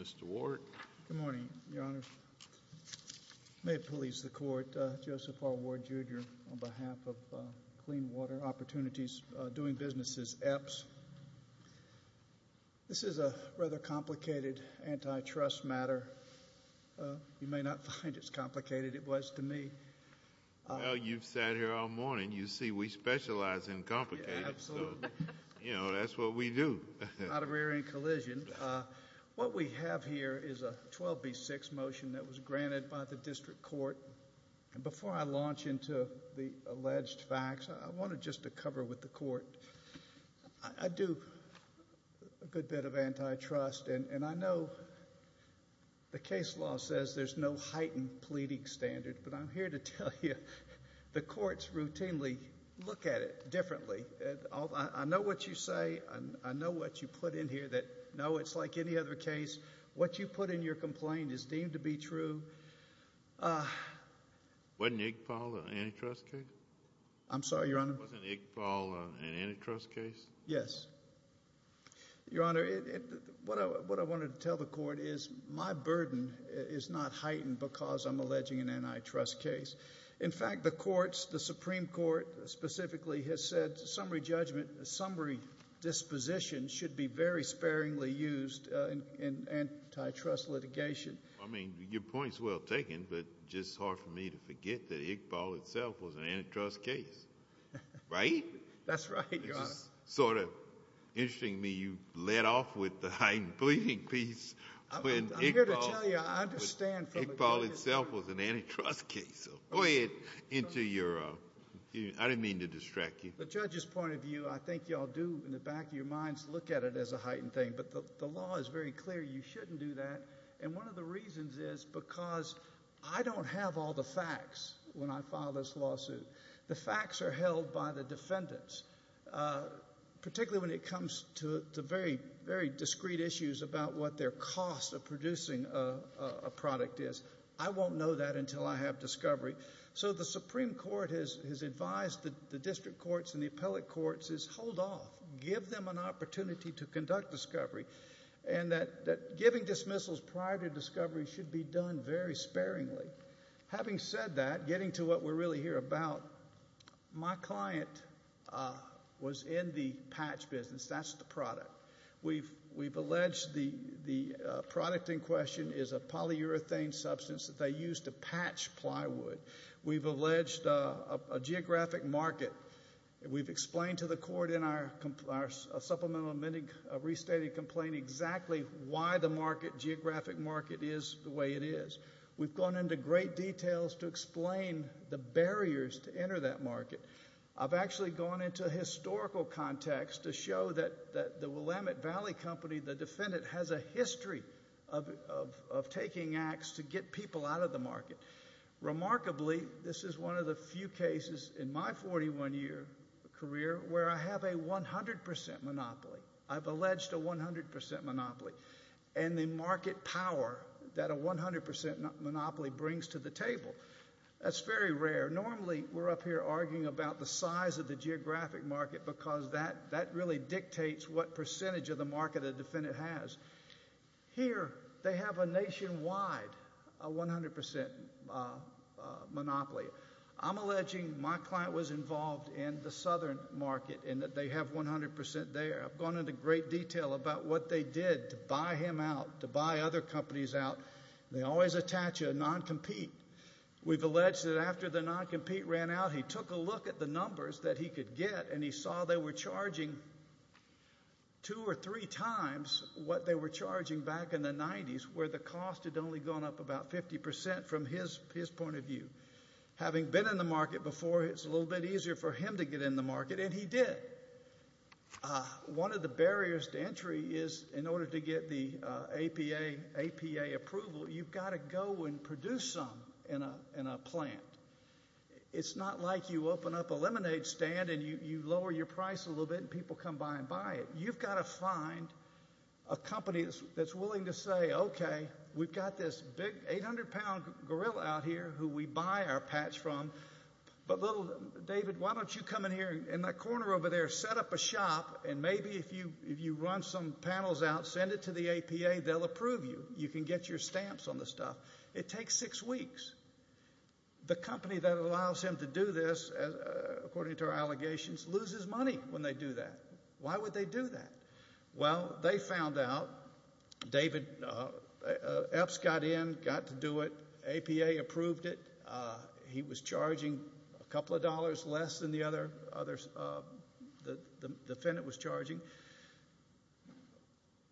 Mr. Ward. Good morning, Your Honor. May it please the Court, Joseph R. Ward Jr. on behalf of Clean Water Opportunities, Doing Businesses, EPS. This is a rather complicated antitrust matter. You may not find as complicated as it was to me. Well, you've sat here all morning. You see, we specialize in complicated. Absolutely. You know, that's what we do. Not a rare incollision. What we have here is a 12B6 motion that was granted by the District Court. Before I launch into the alleged facts, I wanted just to cover with the Court. I do a good bit of antitrust, and I know the case law says there's no heightened pleading standard, but I'm here to tell you the courts routinely look at it differently. I know what you say. I know what you put in here that, no, it's like any other case. What you put in your complaint is deemed to be true. Wasn't Iqbal an antitrust case? I'm sorry, Your Honor? Wasn't Iqbal an antitrust case? Yes. Your Honor, what I wanted to tell the Court is my burden is not heightened because I'm alleging an antitrust case. In fact, the courts, the Supreme Court specifically has said summary judgment, summary disposition should be very sparingly used in antitrust litigation. I mean, your point's well taken, but just hard for me to forget that Iqbal itself was an antitrust case, right? That's right, Your Honor. It's just sort of interesting to me you led off with the heightened pleading piece when Iqbal... I'm here to tell you I understand... Iqbal itself was an antitrust case, so go ahead, enter your... I didn't mean to distract you. The judge's point of view, I think you all do in the back of your minds look at it as a heightened thing, but the law is very clear you shouldn't do that and one of the reasons is because I don't have all the facts when I file this lawsuit. The facts are held by the defendants, particularly when it comes to the very, very discreet issues about what their cost of producing a product is. I won't know that until I have discovery. So the Supreme Court has advised the district courts and the appellate courts is hold off. Give them an opportunity to conduct discovery and that giving dismissals prior to discovery should be done very sparingly. Having said that, getting to what we're really here about, my client was in the patch business. That's the product. We've alleged the product in question is a polyurethane substance that they used to patch plywood. We've alleged a geographic market. We've explained to the court in our supplemental amending restated complaint exactly why the market, geographic market is the way it is. We've gone into great details to explain the barriers to enter that market. I've actually gone into historical context to show that the Willamette Valley Company, the defendant has a history of taking acts to get people out of the market. Remarkably, this is one of the few cases in my 41 year career where I have a 100% monopoly. I've alleged a 100% monopoly and the market power that a 100% monopoly brings to the table. That's very rare. Normally, we're up here arguing about the size of the geographic market because that really dictates what percentage of the market a defendant has. Here, they have a nationwide 100% monopoly. I'm alleging my client was involved in the southern market and that they have 100% there. I've gone into great detail about what they did to buy him out, to buy other companies out. They always attach a non-compete. We've alleged that after the non-compete ran out, he took a look at the numbers that he could get and he saw they were charging two or three times what they were charging back in the 90s where the cost had only gone up about 50% from his point of view. Having been in the market before, it's a little bit easier for him to get in the market and he did. One of the barriers to entry is in order to get the APA approval, you've got to go and produce some in a plant. It's not like you open up a lemonade stand and you lower your price a little bit and people come by and buy it. You've got to find a company that's willing to say, okay, we've got this big 800-pound gorilla out here who we buy our patch from. David, why don't you come in here in that corner over there, set up a shop, and maybe if you run some panels out, send it to the APA, they'll approve you. You can get your stamps on the stuff. It takes six weeks. The company that allows him to do this, according to our allegations, loses money when they do that. Why would they do that? Well, they found out. EPS got in, got to do it. APA approved it. He was charging a couple of dollars less than the other defendant was charging.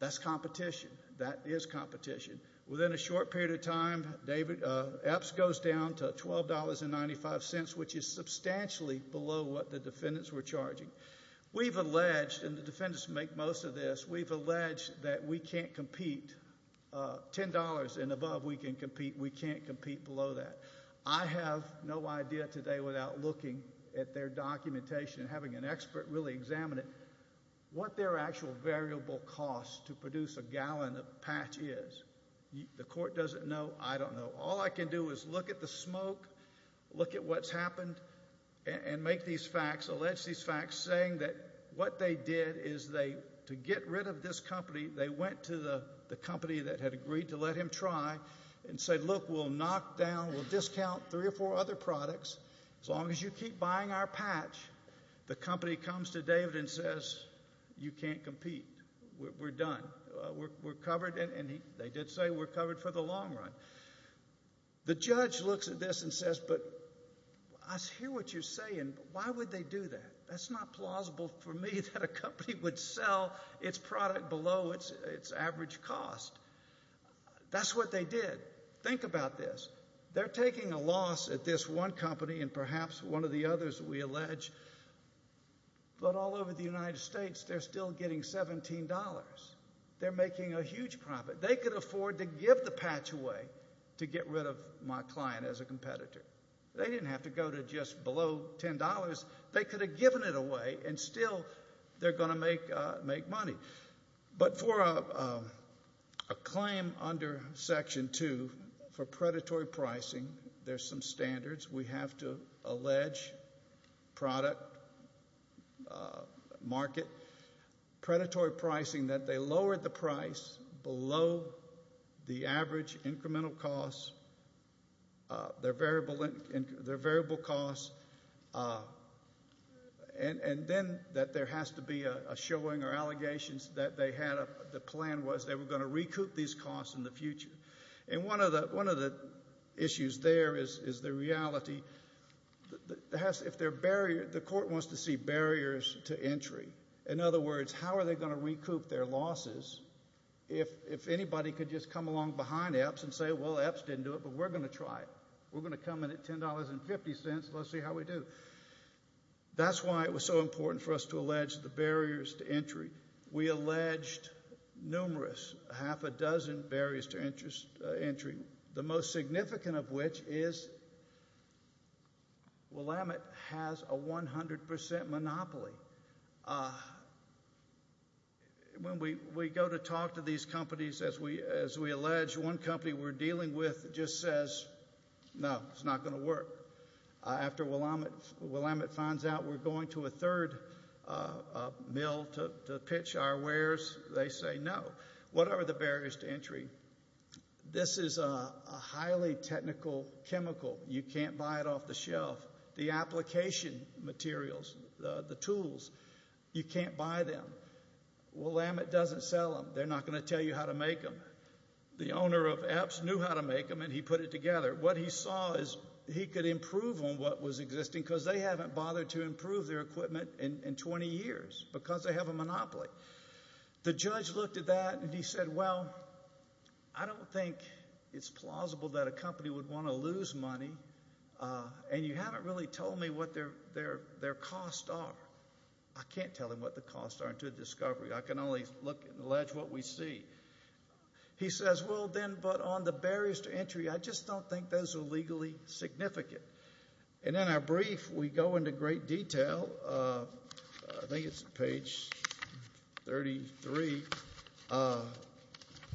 That's competition. That is competition. Within a short period of time, EPS goes down to $12.95, which is substantially below what the defendants were charging. We've alleged, and the defendants make most of this, we've alleged that we can't compete, $10 and above, we can't compete below that. I have no idea today without looking at their documentation and having an expert really examine it, what their actual variable cost to produce a gallon of patch is. The court doesn't know. I don't know. All I can do is look at the smoke, look at what's happened, and make these facts, allege these facts, saying that what they did is they, to get rid of this company, they went to the company that had agreed to let him try and said, look, we'll knock down, we'll discount three or four other products. As long as you keep buying our patch, the judges can't compete. We're done. We're covered, and they did say we're covered for the long run. The judge looks at this and says, but I hear what you're saying, but why would they do that? That's not plausible for me that a company would sell its product below its average cost. That's what they did. Think about this. They're taking a loss at this one company and perhaps one of the others, we allege, but all over the United States they're still getting $17. They're making a huge profit. They could afford to give the patch away to get rid of my client as a competitor. They didn't have to go to just below $10. They could have given it away, and still they're going to make money. But for a claim under Section 2, for predatory pricing, there's some standards we have to allege product market. Predatory pricing that they lowered the price below the average incremental cost, their variable cost, and then that there has to be a showing or allegations that they had the plan was they were going to recoup these costs in the future. And one of the issues there is the reality. The court wants to see barriers to entry. In other words, how are they going to recoup their losses if anybody could just come along behind EPS and say, well, EPS didn't do it, but we're going to try it. We're going to come in at $10.50. Let's see how we do. That's why it was so important for us to allege the barriers to entry, numerous, half a dozen barriers to entry, the most significant of which is Willamette has a 100% monopoly. When we go to talk to these companies, as we allege, one company we're dealing with just says, no, it's not going to work. After Willamette finds out we're going to a third mill to pitch our wares, they say no. What are the barriers to entry? This is a highly technical chemical. You can't buy it off the shelf. The application materials, the tools, you can't buy them. Willamette doesn't sell them. They're not going to tell you how to make them. The owner of EPS knew how to make them, and he put it together. What he saw is he could improve on what was existing because they haven't bothered to improve their equipment in 20 years because they have a monopoly. The judge looked at that, and he said, well, I don't think it's plausible that a company would want to lose money, and you haven't really told me what their costs are. I can't tell him what the costs are until the discovery. I can only look and allege what we see. He says, well, then, but on the barriers to entry, I just don't think those are legally significant. In our brief, we go into great detail. I think it's page 33,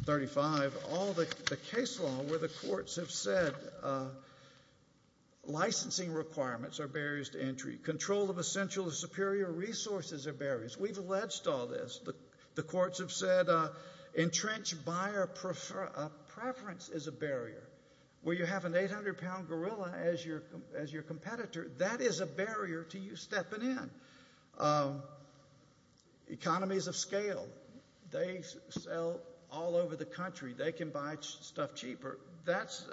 35, all the case law where the courts have said licensing requirements are barriers to entry. Control of essential or superior resources are barriers. We've alleged all this. The courts have said entrenched buyer preference is a barrier. Where you have an 800-pound gorilla as your competitor, that is a barrier to you stepping in. Economies of scale, they sell all over the country. They can buy stuff cheaper. That's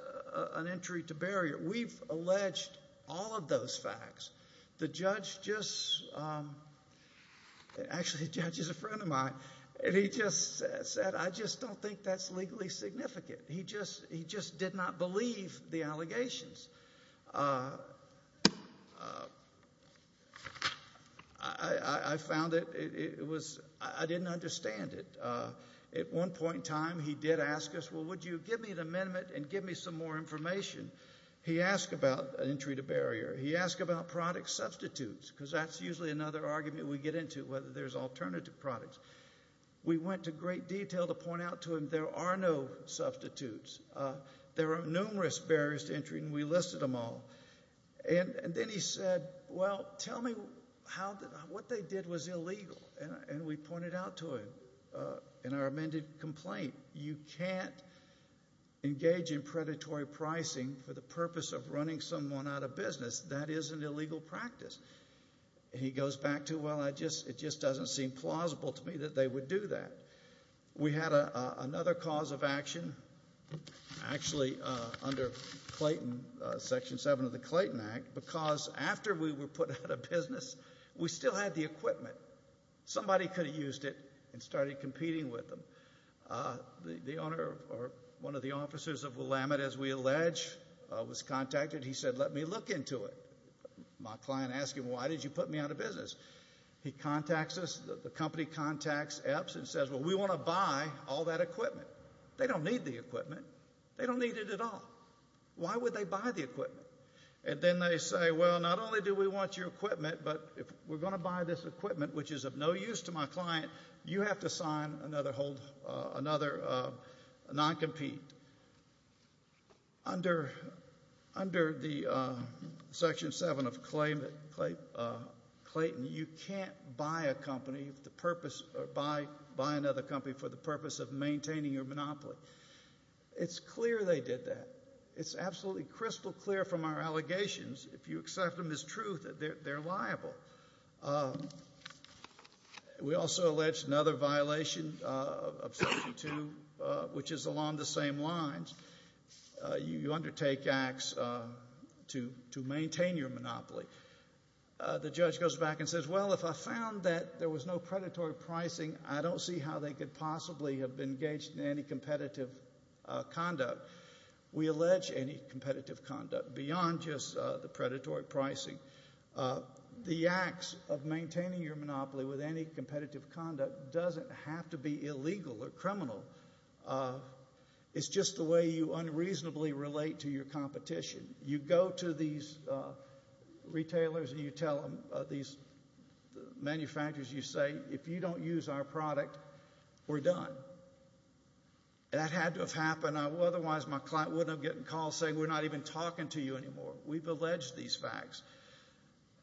an entry to barrier. We've alleged all of those facts. The judge just, actually, the judge is a friend of mine, and he just said, I just don't think that's legally significant. He just did not believe the allegations. I found it, it was, I didn't understand it. At one point in time, he did ask us, well, would you give me an amendment and give me some more information? He asked about an entry to barrier. He asked about product substitutes, because that's usually another argument we get into, whether there's alternative products. We went to great detail to point out to him there are no substitutes. There are numerous barriers to entry, and we listed them all. Then he said, well, tell me how, what they did was illegal, and we pointed out to him in our amended complaint. You can't engage in predatory pricing for the purpose of running someone out of business. That is an illegal practice. He goes back to, well, it just doesn't seem plausible to me that they would do that. We had another cause of action, actually, under Clayton, Section 7 of the Clayton Act, because after we were put out of business, we still had the equipment. Somebody could have used it and started competing with them. The owner, one of the officers of Willamette, as we allege, was contacted. He said, let me look into it. My client asked him, why did you put me out of business? He contacts us. The company contacts EPS and says, well, we want to buy all that equipment. They don't need the equipment. They don't need it at all. Why would they buy the equipment? Then they say, well, not only do we want your equipment, but if we're going to buy this equipment, which is of no use to my client, you have to sign another non-compete. Under Section 7 of Clayton, you can't buy another company for the purpose of maintaining your monopoly. It's clear they did that. It's absolutely crystal clear from our allegations. If you accept them as truth, they're liable. We also allege another violation of Section 2, which is along the same lines. You undertake acts to maintain your monopoly. The judge goes back and says, well, if I found that there was no predatory pricing, I don't see how they could possibly have been engaged in any competitive conduct. We allege any competitive conduct beyond just the predatory pricing. The acts of maintaining your monopoly with any competitive conduct doesn't have to be illegal or criminal. It's just the way you unreasonably relate to your competition. You go to these retailers and you tell them, these manufacturers, you say, if you don't use our product, we're done. That had to have happened. Otherwise, my client wouldn't have gotten calls saying, we're not even talking to you anymore. We've alleged these facts.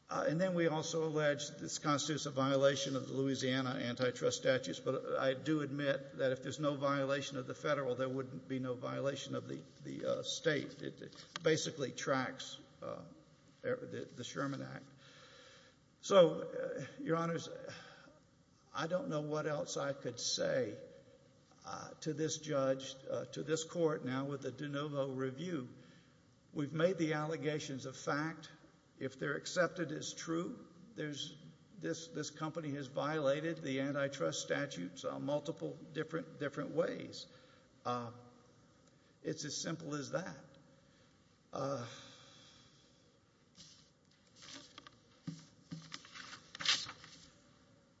And then we also allege this constitutes a violation of the Louisiana Antitrust Statutes. But I do admit that if there's no violation of the federal, there wouldn't be no violation of the state. It basically tracks the Sherman Act. So, Your Honors, I don't know what else I could say to this judge, to this court now with the de novo review. We've made the allegations of fact. If they're accepted as true, this company has violated the Antitrust Statutes on multiple different ways. It's as simple as that.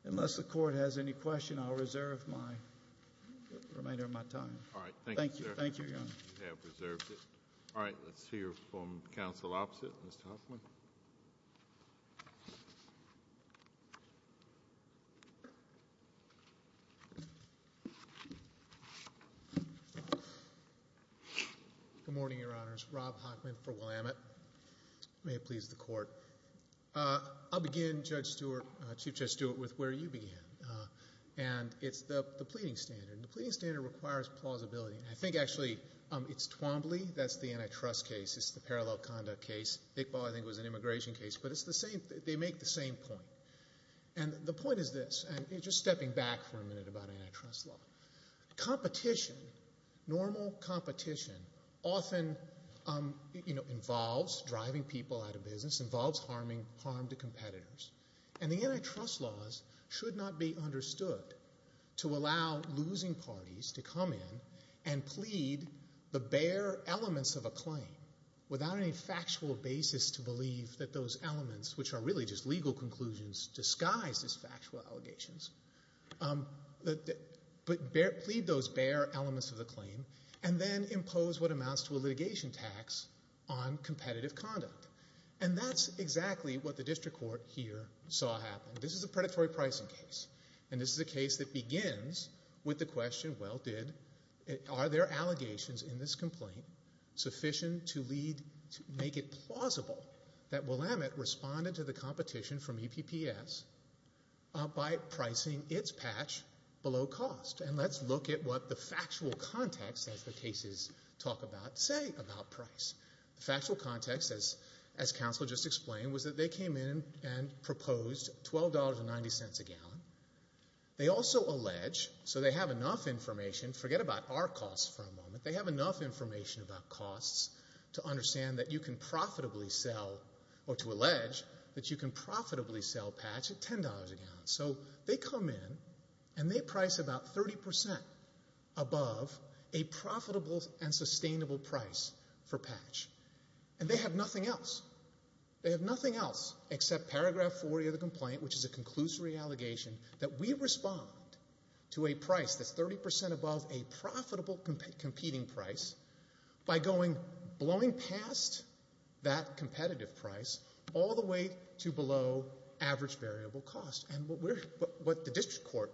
Unless the court has any question, I'll reserve the remainder of my time. All right. Thank you, Your Honor. All right. Let's hear from counsel opposite, Mr. Hoffman. Good morning, Your Honors. Rob Hoffman for Willamette. May it please the court. I'll begin, Chief Judge Stewart, with where you began. And it's the pleading standard. The pleading standard requires plausibility. I think actually it's Twombly. That's the antitrust case. It's the parallel conduct case. Iqbal, I think, was an immigration case. But they make the same point. And the point is this. And just stepping back for a minute about antitrust law. Competition, normal competition, often involves a lot of people. Involves driving people out of business. Involves harm to competitors. And the antitrust laws should not be understood to allow losing parties to come in and plead the bare elements of a claim without any factual basis to believe that those elements, which are really just legal conclusions disguised as factual allegations, but plead those bare elements of the claim and then impose what amounts to a litigation tax on competitive conduct. And that's exactly what the district court here saw happen. This is a predatory pricing case. And this is a case that begins with the question, well, did, are there allegations in this complaint sufficient to lead, to make it plausible that Willamette responded to the competition from EPPS by pricing its patch below cost? And let's look at what the factual context of the cases talk about, say, about price. The factual context, as counsel just explained, was that they came in and proposed $12.90 a gallon. They also allege, so they have enough information, forget about our costs for a moment, they have enough information about costs to understand that you can profitably sell, or to allege that you can profitably sell patch at $10 a gallon. So they come in and they price about 30% above a price that is a profitable and sustainable price for patch. And they have nothing else. They have nothing else except paragraph 40 of the complaint, which is a conclusory allegation that we respond to a price that's 30% above a profitable competing price by going, blowing past that competitive price all the way to below average variable cost. And what we're, what the district court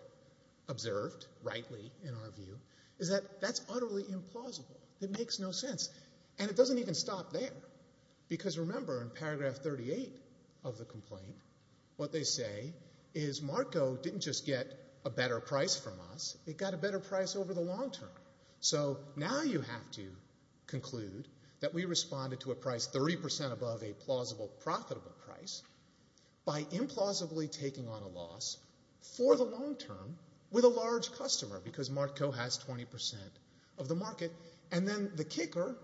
observed, rightly, in our view, is that that's utterly implausible. It makes no sense. And it doesn't even stop there. Because remember, in paragraph 38 of the complaint, what they say is MarCO didn't just get a better price from us, it got a better price over the long term. So now you have to conclude that we responded to a price 30% above a plausible with a large customer, because MarCO has 20% of the market. And then the kicker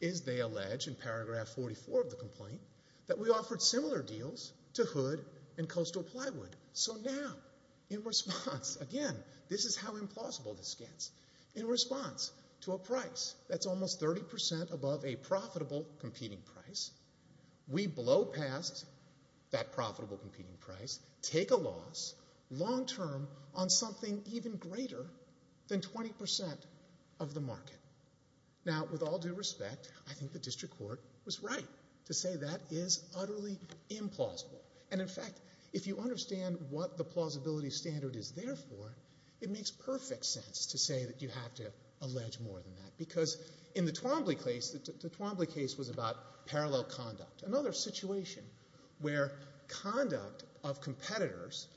is, they allege, in paragraph 44 of the complaint, that we offered similar deals to Hood and Coastal Plywood. So now, in response, again, this is how implausible this gets. In response to a price that's almost 30% above a profitable competing price, we blow past that profitable competing price, take a loss, long term, on something even greater than 20% of the market. Now with all due respect, I think the district court was right to say that is utterly implausible. And in fact, if you understand what the plausibility standard is there for, it makes perfect sense to say that you have to allege more than that. Because in the Twombly case, the Twombly case was about parallel conduct. Another situation where conduct of competitors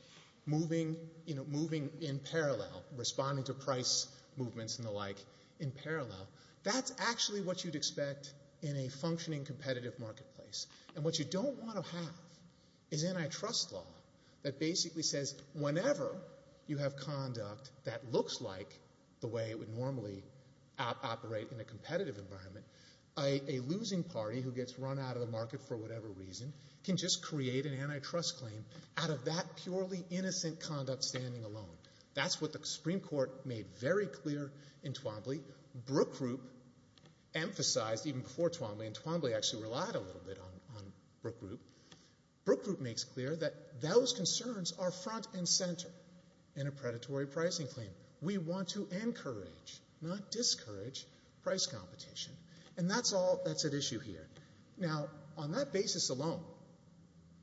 moving in parallel, responding to price movements and the like in parallel, that's actually what you'd expect in a functioning competitive marketplace. And what you don't want to have is antitrust law that basically says, whenever you have conduct that looks like the way it would normally operate in a competitive environment, a losing party who gets run out of the market for whatever reason can just create an antitrust claim out of that purely innocent conduct standing alone. That's what the Supreme Court made very clear in Twombly. Brook Group emphasized, even before Twombly, and Twombly actually relied a little bit on Brook Group, Brook Group makes clear that those concerns are front and center in a predatory pricing claim. We want to encourage, not discourage, price competition. And that's all that's at issue here. Now, on that basis alone,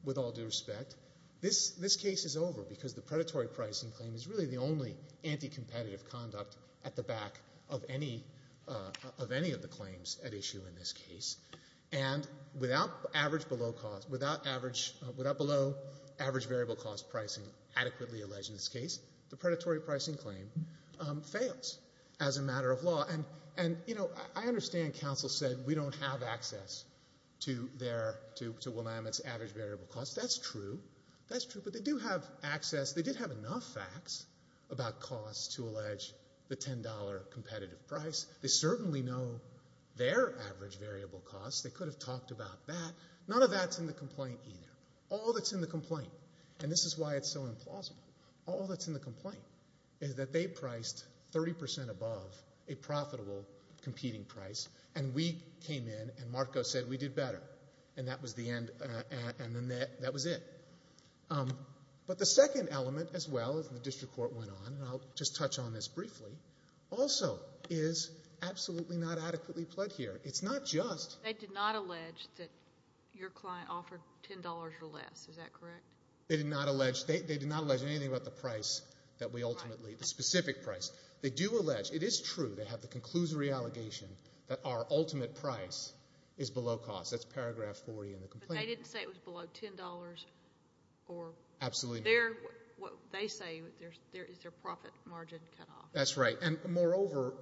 with all due respect, this case is over because the predatory pricing claim is really the only anticompetitive conduct at the back of any of the claims at issue in this case. And without average below cost, without average, without below average variable cost pricing adequately alleged in this case, the predatory pricing claim fails as a matter of law. And, you know, I understand counsel said we don't have access to their, to Willamette's average variable cost. That's true. That's true. But they do have access. They did have enough facts about cost to allege the $10 competitive price. They certainly know their average variable cost. They could have talked about that. None of that's in the complaint either. All that's in the complaint, and this is why it's so implausible, all that's in the complaint is that they priced 30 percent above a profitable competing price and we came in and MarCO said we did better. And that was the end, and that was it. But the second element as well, as the district court went on, and I'll just touch on this briefly, also is absolutely not adequately pled here. It's not just... They did not allege that your client offered $10 or less, is that correct? They did not allege anything about the price that we ultimately, the specific price. They do allege, it is true, they have the conclusory allegation that our ultimate price is below cost. That's paragraph 40 in the complaint. But they didn't say it was below $10 or... Absolutely not. What they say is their profit margin cut off. That's right. And moreover,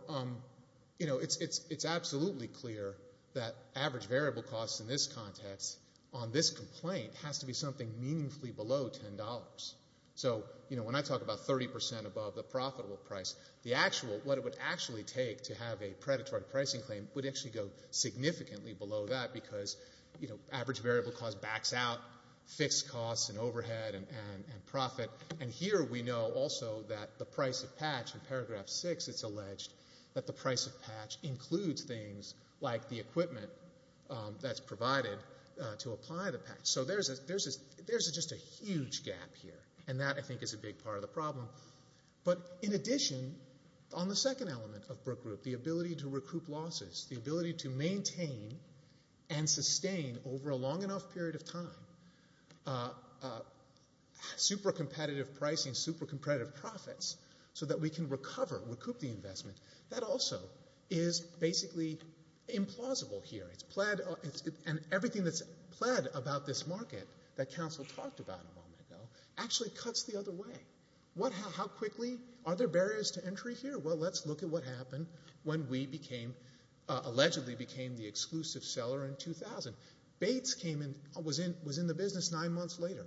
you know, it's absolutely clear that average variable costs in this context on this complaint has to be something meaningfully below $10. So, you know, when I talk about 30 percent above the profitable price, the actual, what it would actually take to have a predatory pricing claim would actually go significantly below that because, you know, average variable cost backs out fixed costs and overhead and profit. And here we know also that the price of patch, in paragraph 6, it's alleged that the price of patch includes things like the equipment that's provided to apply the patch. So there's just a huge gap here. And that, I think, is a big part of the problem. But in addition, on the second element of Brooke Group, the ability to recoup losses, the ability to maintain and sustain over a long enough period of time, super competitive pricing, super competitive profits, so that we can recover, recoup the investment, that also is basically implausible here. It's pled, and everything that's pled about this market that counsel talked about a moment ago actually cuts the other way. How quickly are there barriers to entry here? Well, let's look at what happened when we became, allegedly became the exclusive seller in 2000. Bates came in, was in the business nine months later.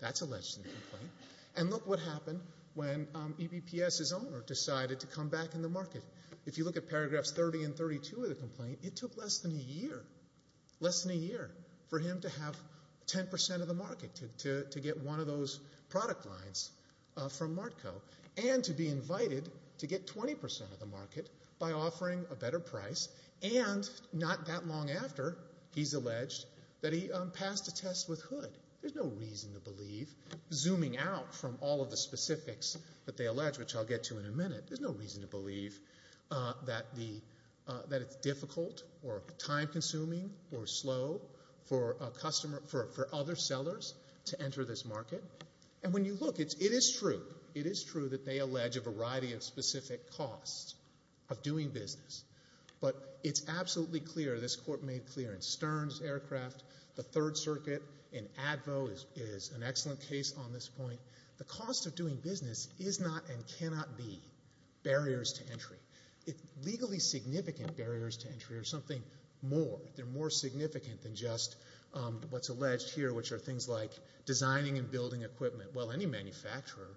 That's the complaint. And look what happened when EBPS's owner decided to come back in the market. If you look at paragraphs 30 and 32 of the complaint, it took less than a year, less than a year for him to have 10% of the market to get one of those product lines from Martco and to be invited to get 20% of the market by offering a better price. And not that long after, he's alleged that he passed a test with Hood. There's no reason to believe, zooming out from all of the specifics that they allege, which I'll get to in a minute, there's no reason to believe that the, that it's difficult or time-consuming or slow for a customer, for other sellers to enter this market. And when you look, it's, it is true, it is true that they allege a variety of specific costs of doing business. But it's absolutely clear this court made clear in Stern's aircraft, the Third Circuit, in ADVO is an excellent case on this point. The cost of doing business is not and cannot be barriers to entry. Legally significant barriers to entry are something more. They're more significant than just what's alleged here, which are things like designing and building equipment. Well, any manufacturer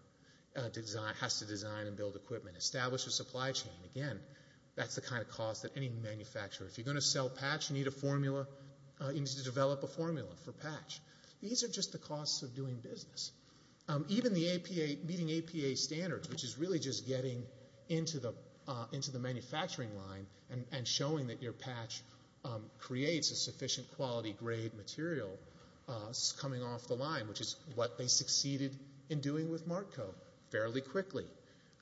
design, has to design and build equipment. Establish a supply chain. Again, that's the kind of cost that any manufacturer, if you're going to sell patch, you need a formula, you need to develop a formula for patch. These are just the costs of doing business. Even the APA, meeting APA standards, which is really just getting into the, into the manufacturing line and showing that your patch creates a sufficient quality grade material, is coming off the line, which is what they succeeded in doing with MARCCO, fairly quickly.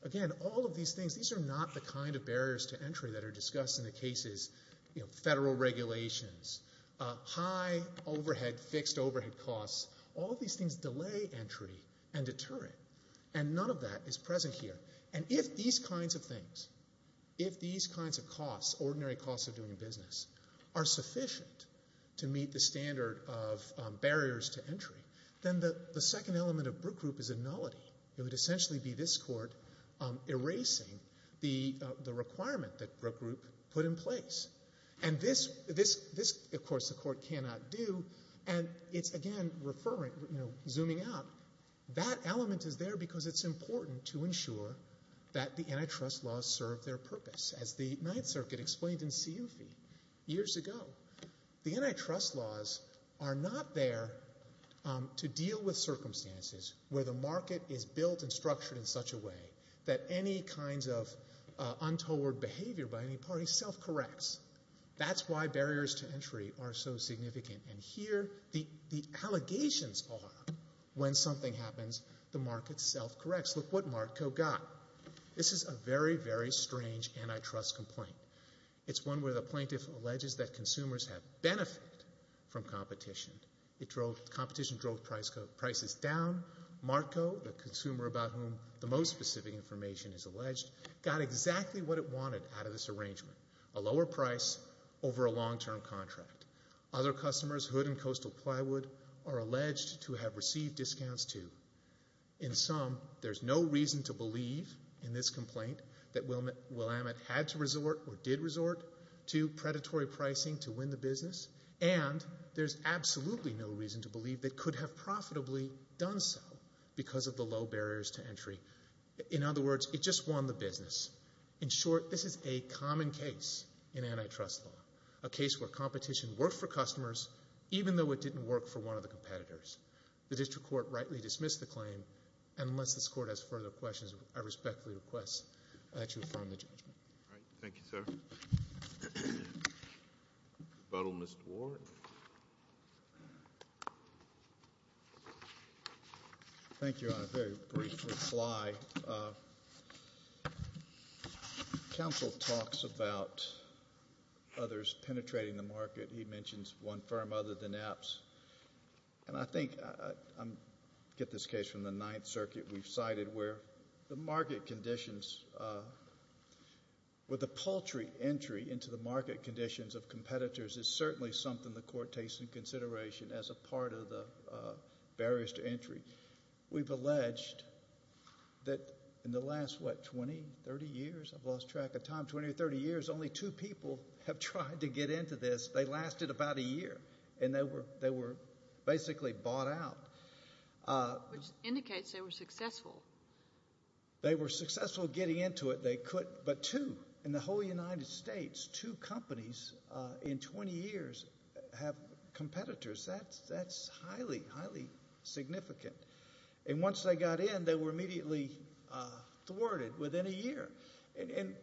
Again, all of these things, these are not the kind of barriers to entry that are discussed in the cases, you know, federal regulations, high overhead, fixed overhead costs. All of these things delay entry and deter it. And none of that is present here. And if these kinds of things, if these kinds of costs, ordinary costs of doing business, are sufficient to meet the standard of barriers to entry, then the second element of Brook Group is functionality. It would essentially be this Court erasing the requirement that Brook Group put in place. And this, of course, the Court cannot do, and it's again referring, you know, zooming out, that element is there because it's important to ensure that the antitrust laws serve their purpose. As the Ninth Circuit explained in CFE years ago, the antitrust laws are not there to deal with circumstances where the market is built and structured in such a way that any kinds of untoward behavior by any party self-corrects. That's why barriers to entry are so significant. And here, the allegations are, when something happens, the market self-corrects. Look what MARCCO got. This is a very, very strange antitrust complaint. It's one where the plaintiff alleges that consumers have benefited from competition. It drove, competition drove prices down. MARCCO, the consumer about whom the most specific information is alleged, got exactly what it wanted out of this arrangement, a lower price over a long-term contract. Other customers, Hood and Coastal Plywood, are alleged to have received discounts too. In sum, there's no reason to believe in this complaint that Willamette had to resort, or did resort, to predatory pricing to win the business. And there's absolutely no reason to believe they could have profitably done so because of the low barriers to entry. In other words, it just won the business. In short, this is a common case in antitrust law, a case where competition worked for customers even though it didn't work for one of the competitors. The district court rightly dismissed the claim. Unless this Court has further questions, I respectfully request that you affirm the judgment. All right. Thank you, sir. The vote on Mr. Ward. Thank you. On a very brief reply, counsel talks about others penetrating the market. He mentions one firm other than Apps. And I think I get this case from the Ninth Circuit. We've cited where the market conditions, where the paltry entry into the market conditions of competitors is certainly something the Court takes into consideration as a part of the barriers to entry. We've alleged that in the last, what, 20, 30 years, I've lost track of time, 20 or 30 years, only two people have tried to get into this. They lasted about a year. And they were basically bought out. Which indicates they were successful. They were successful getting into it. They could. But two, in the whole United States, two companies in 20 years have competitors. That's highly, highly significant. And once they got in, they were immediately thwarted within a year. And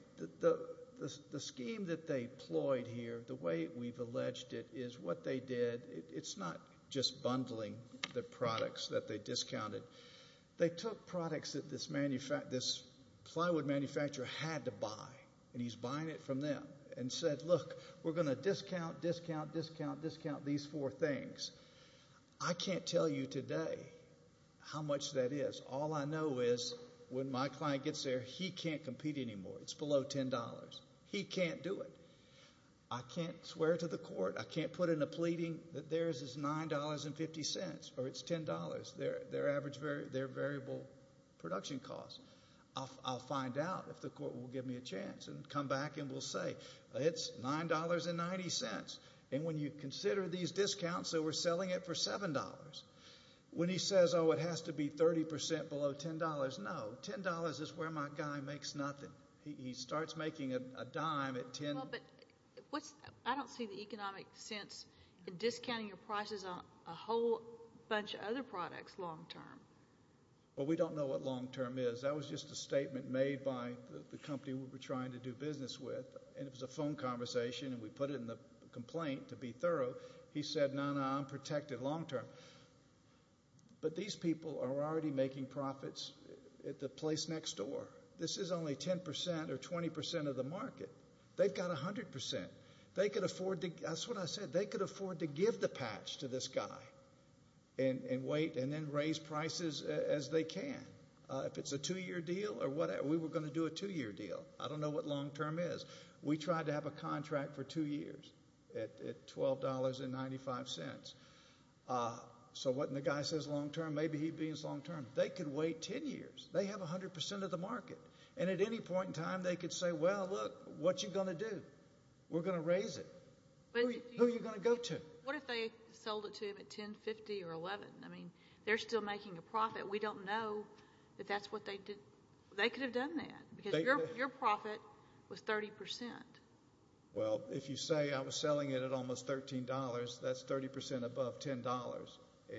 the scheme that they ployed here, the way we've alleged it, is what they did, it's not just bundling the products that they discounted. They took products that this plywood manufacturer had to buy, and he's buying it from them, and said, look, we're going to discount, discount, discount, discount these four things. I can't tell you today how much that is. All I know is when my client gets there, he can't compete anymore. It's below $10. He can't do it. I can't swear to the court, I can't put in a pleading that theirs is $9.50, or it's $10, their average variable production cost. I'll find out if the court will give me a chance and come back and we'll say, it's $9.90. And when you consider these discounts, so we're selling it for $7. When he says, oh, it has to be 30% below $10, no. $10 is where my guy makes nothing. He starts making a dime at $10. I don't see the economic sense in discounting your prices on a whole bunch of other products long term. Well, we don't know what long term is. That was just a statement made by the company we were trying to do business with, and it was a phone conversation, and we put it in the complaint to be thorough. He said, no, no, I'm protected long term. But these people are already making profits at the place next door. This is only 10% or 20% of the market. They've got 100%. They could afford to, that's what I said, they could afford to give the patch to this guy and wait and then raise prices as they can. If it's a two-year deal or whatever, we were going to do a two-year deal. I don't know what long term is. We tried to have a contract for two years at $12.95. So what, and the guy says long term, maybe he'd be as long term. They could wait 10 years. They have 100% of the market. And at any point in time, they could say, well, look, what you going to do? We're going to raise it. Who are you going to go to? What if they sold it to him at $10.50 or $11? I mean, they're still making a profit. We don't know if that's what they did. They could have done that because your profit was 30%. Well, if you say I was 100% above $10,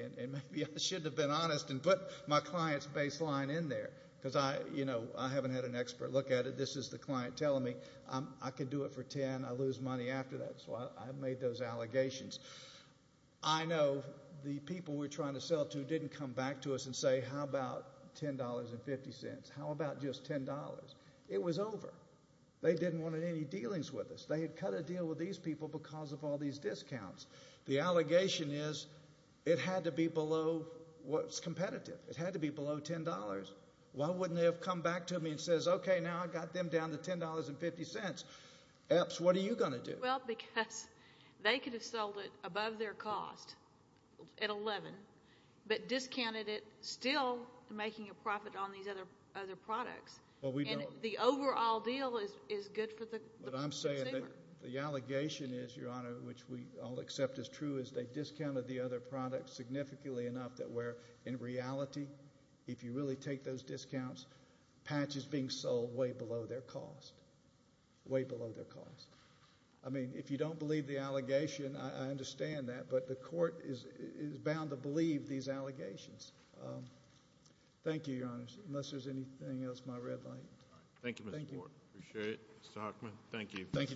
and maybe I should have been honest and put my client's baseline in there because I, you know, I haven't had an expert look at it. This is the client telling me I could do it for $10. I lose money after that. So I made those allegations. I know the people we're trying to sell to didn't come back to us and say, how about $10.50? How about just $10? It was over. They didn't want any dealings with us. They had cut a deal with these people because of all these discounts. The allegation is it had to be below what's competitive. It had to be below $10. Why wouldn't they have come back to me and says, okay, now I got them down to $10.50. Epps, what are you going to do? Well, because they could have sold it above their cost at $11, but discounted it, still making a profit on these other products. And the overall deal is good for the consumer. But I'm saying that the allegation is, Your Honor, which we all accept is true, is they discounted the other products significantly enough that where in reality, if you really take those discounts, patch is being sold way below their cost, way below their cost. I mean, if you don't believe the allegation, I understand that, but the court is bound to believe these allegations. Thank you, Your Honor, unless there's anything else, my red light. Thank you, Mr. Ward. Appreciate it. Mr. Hochman, thank you. Thank you, Judge.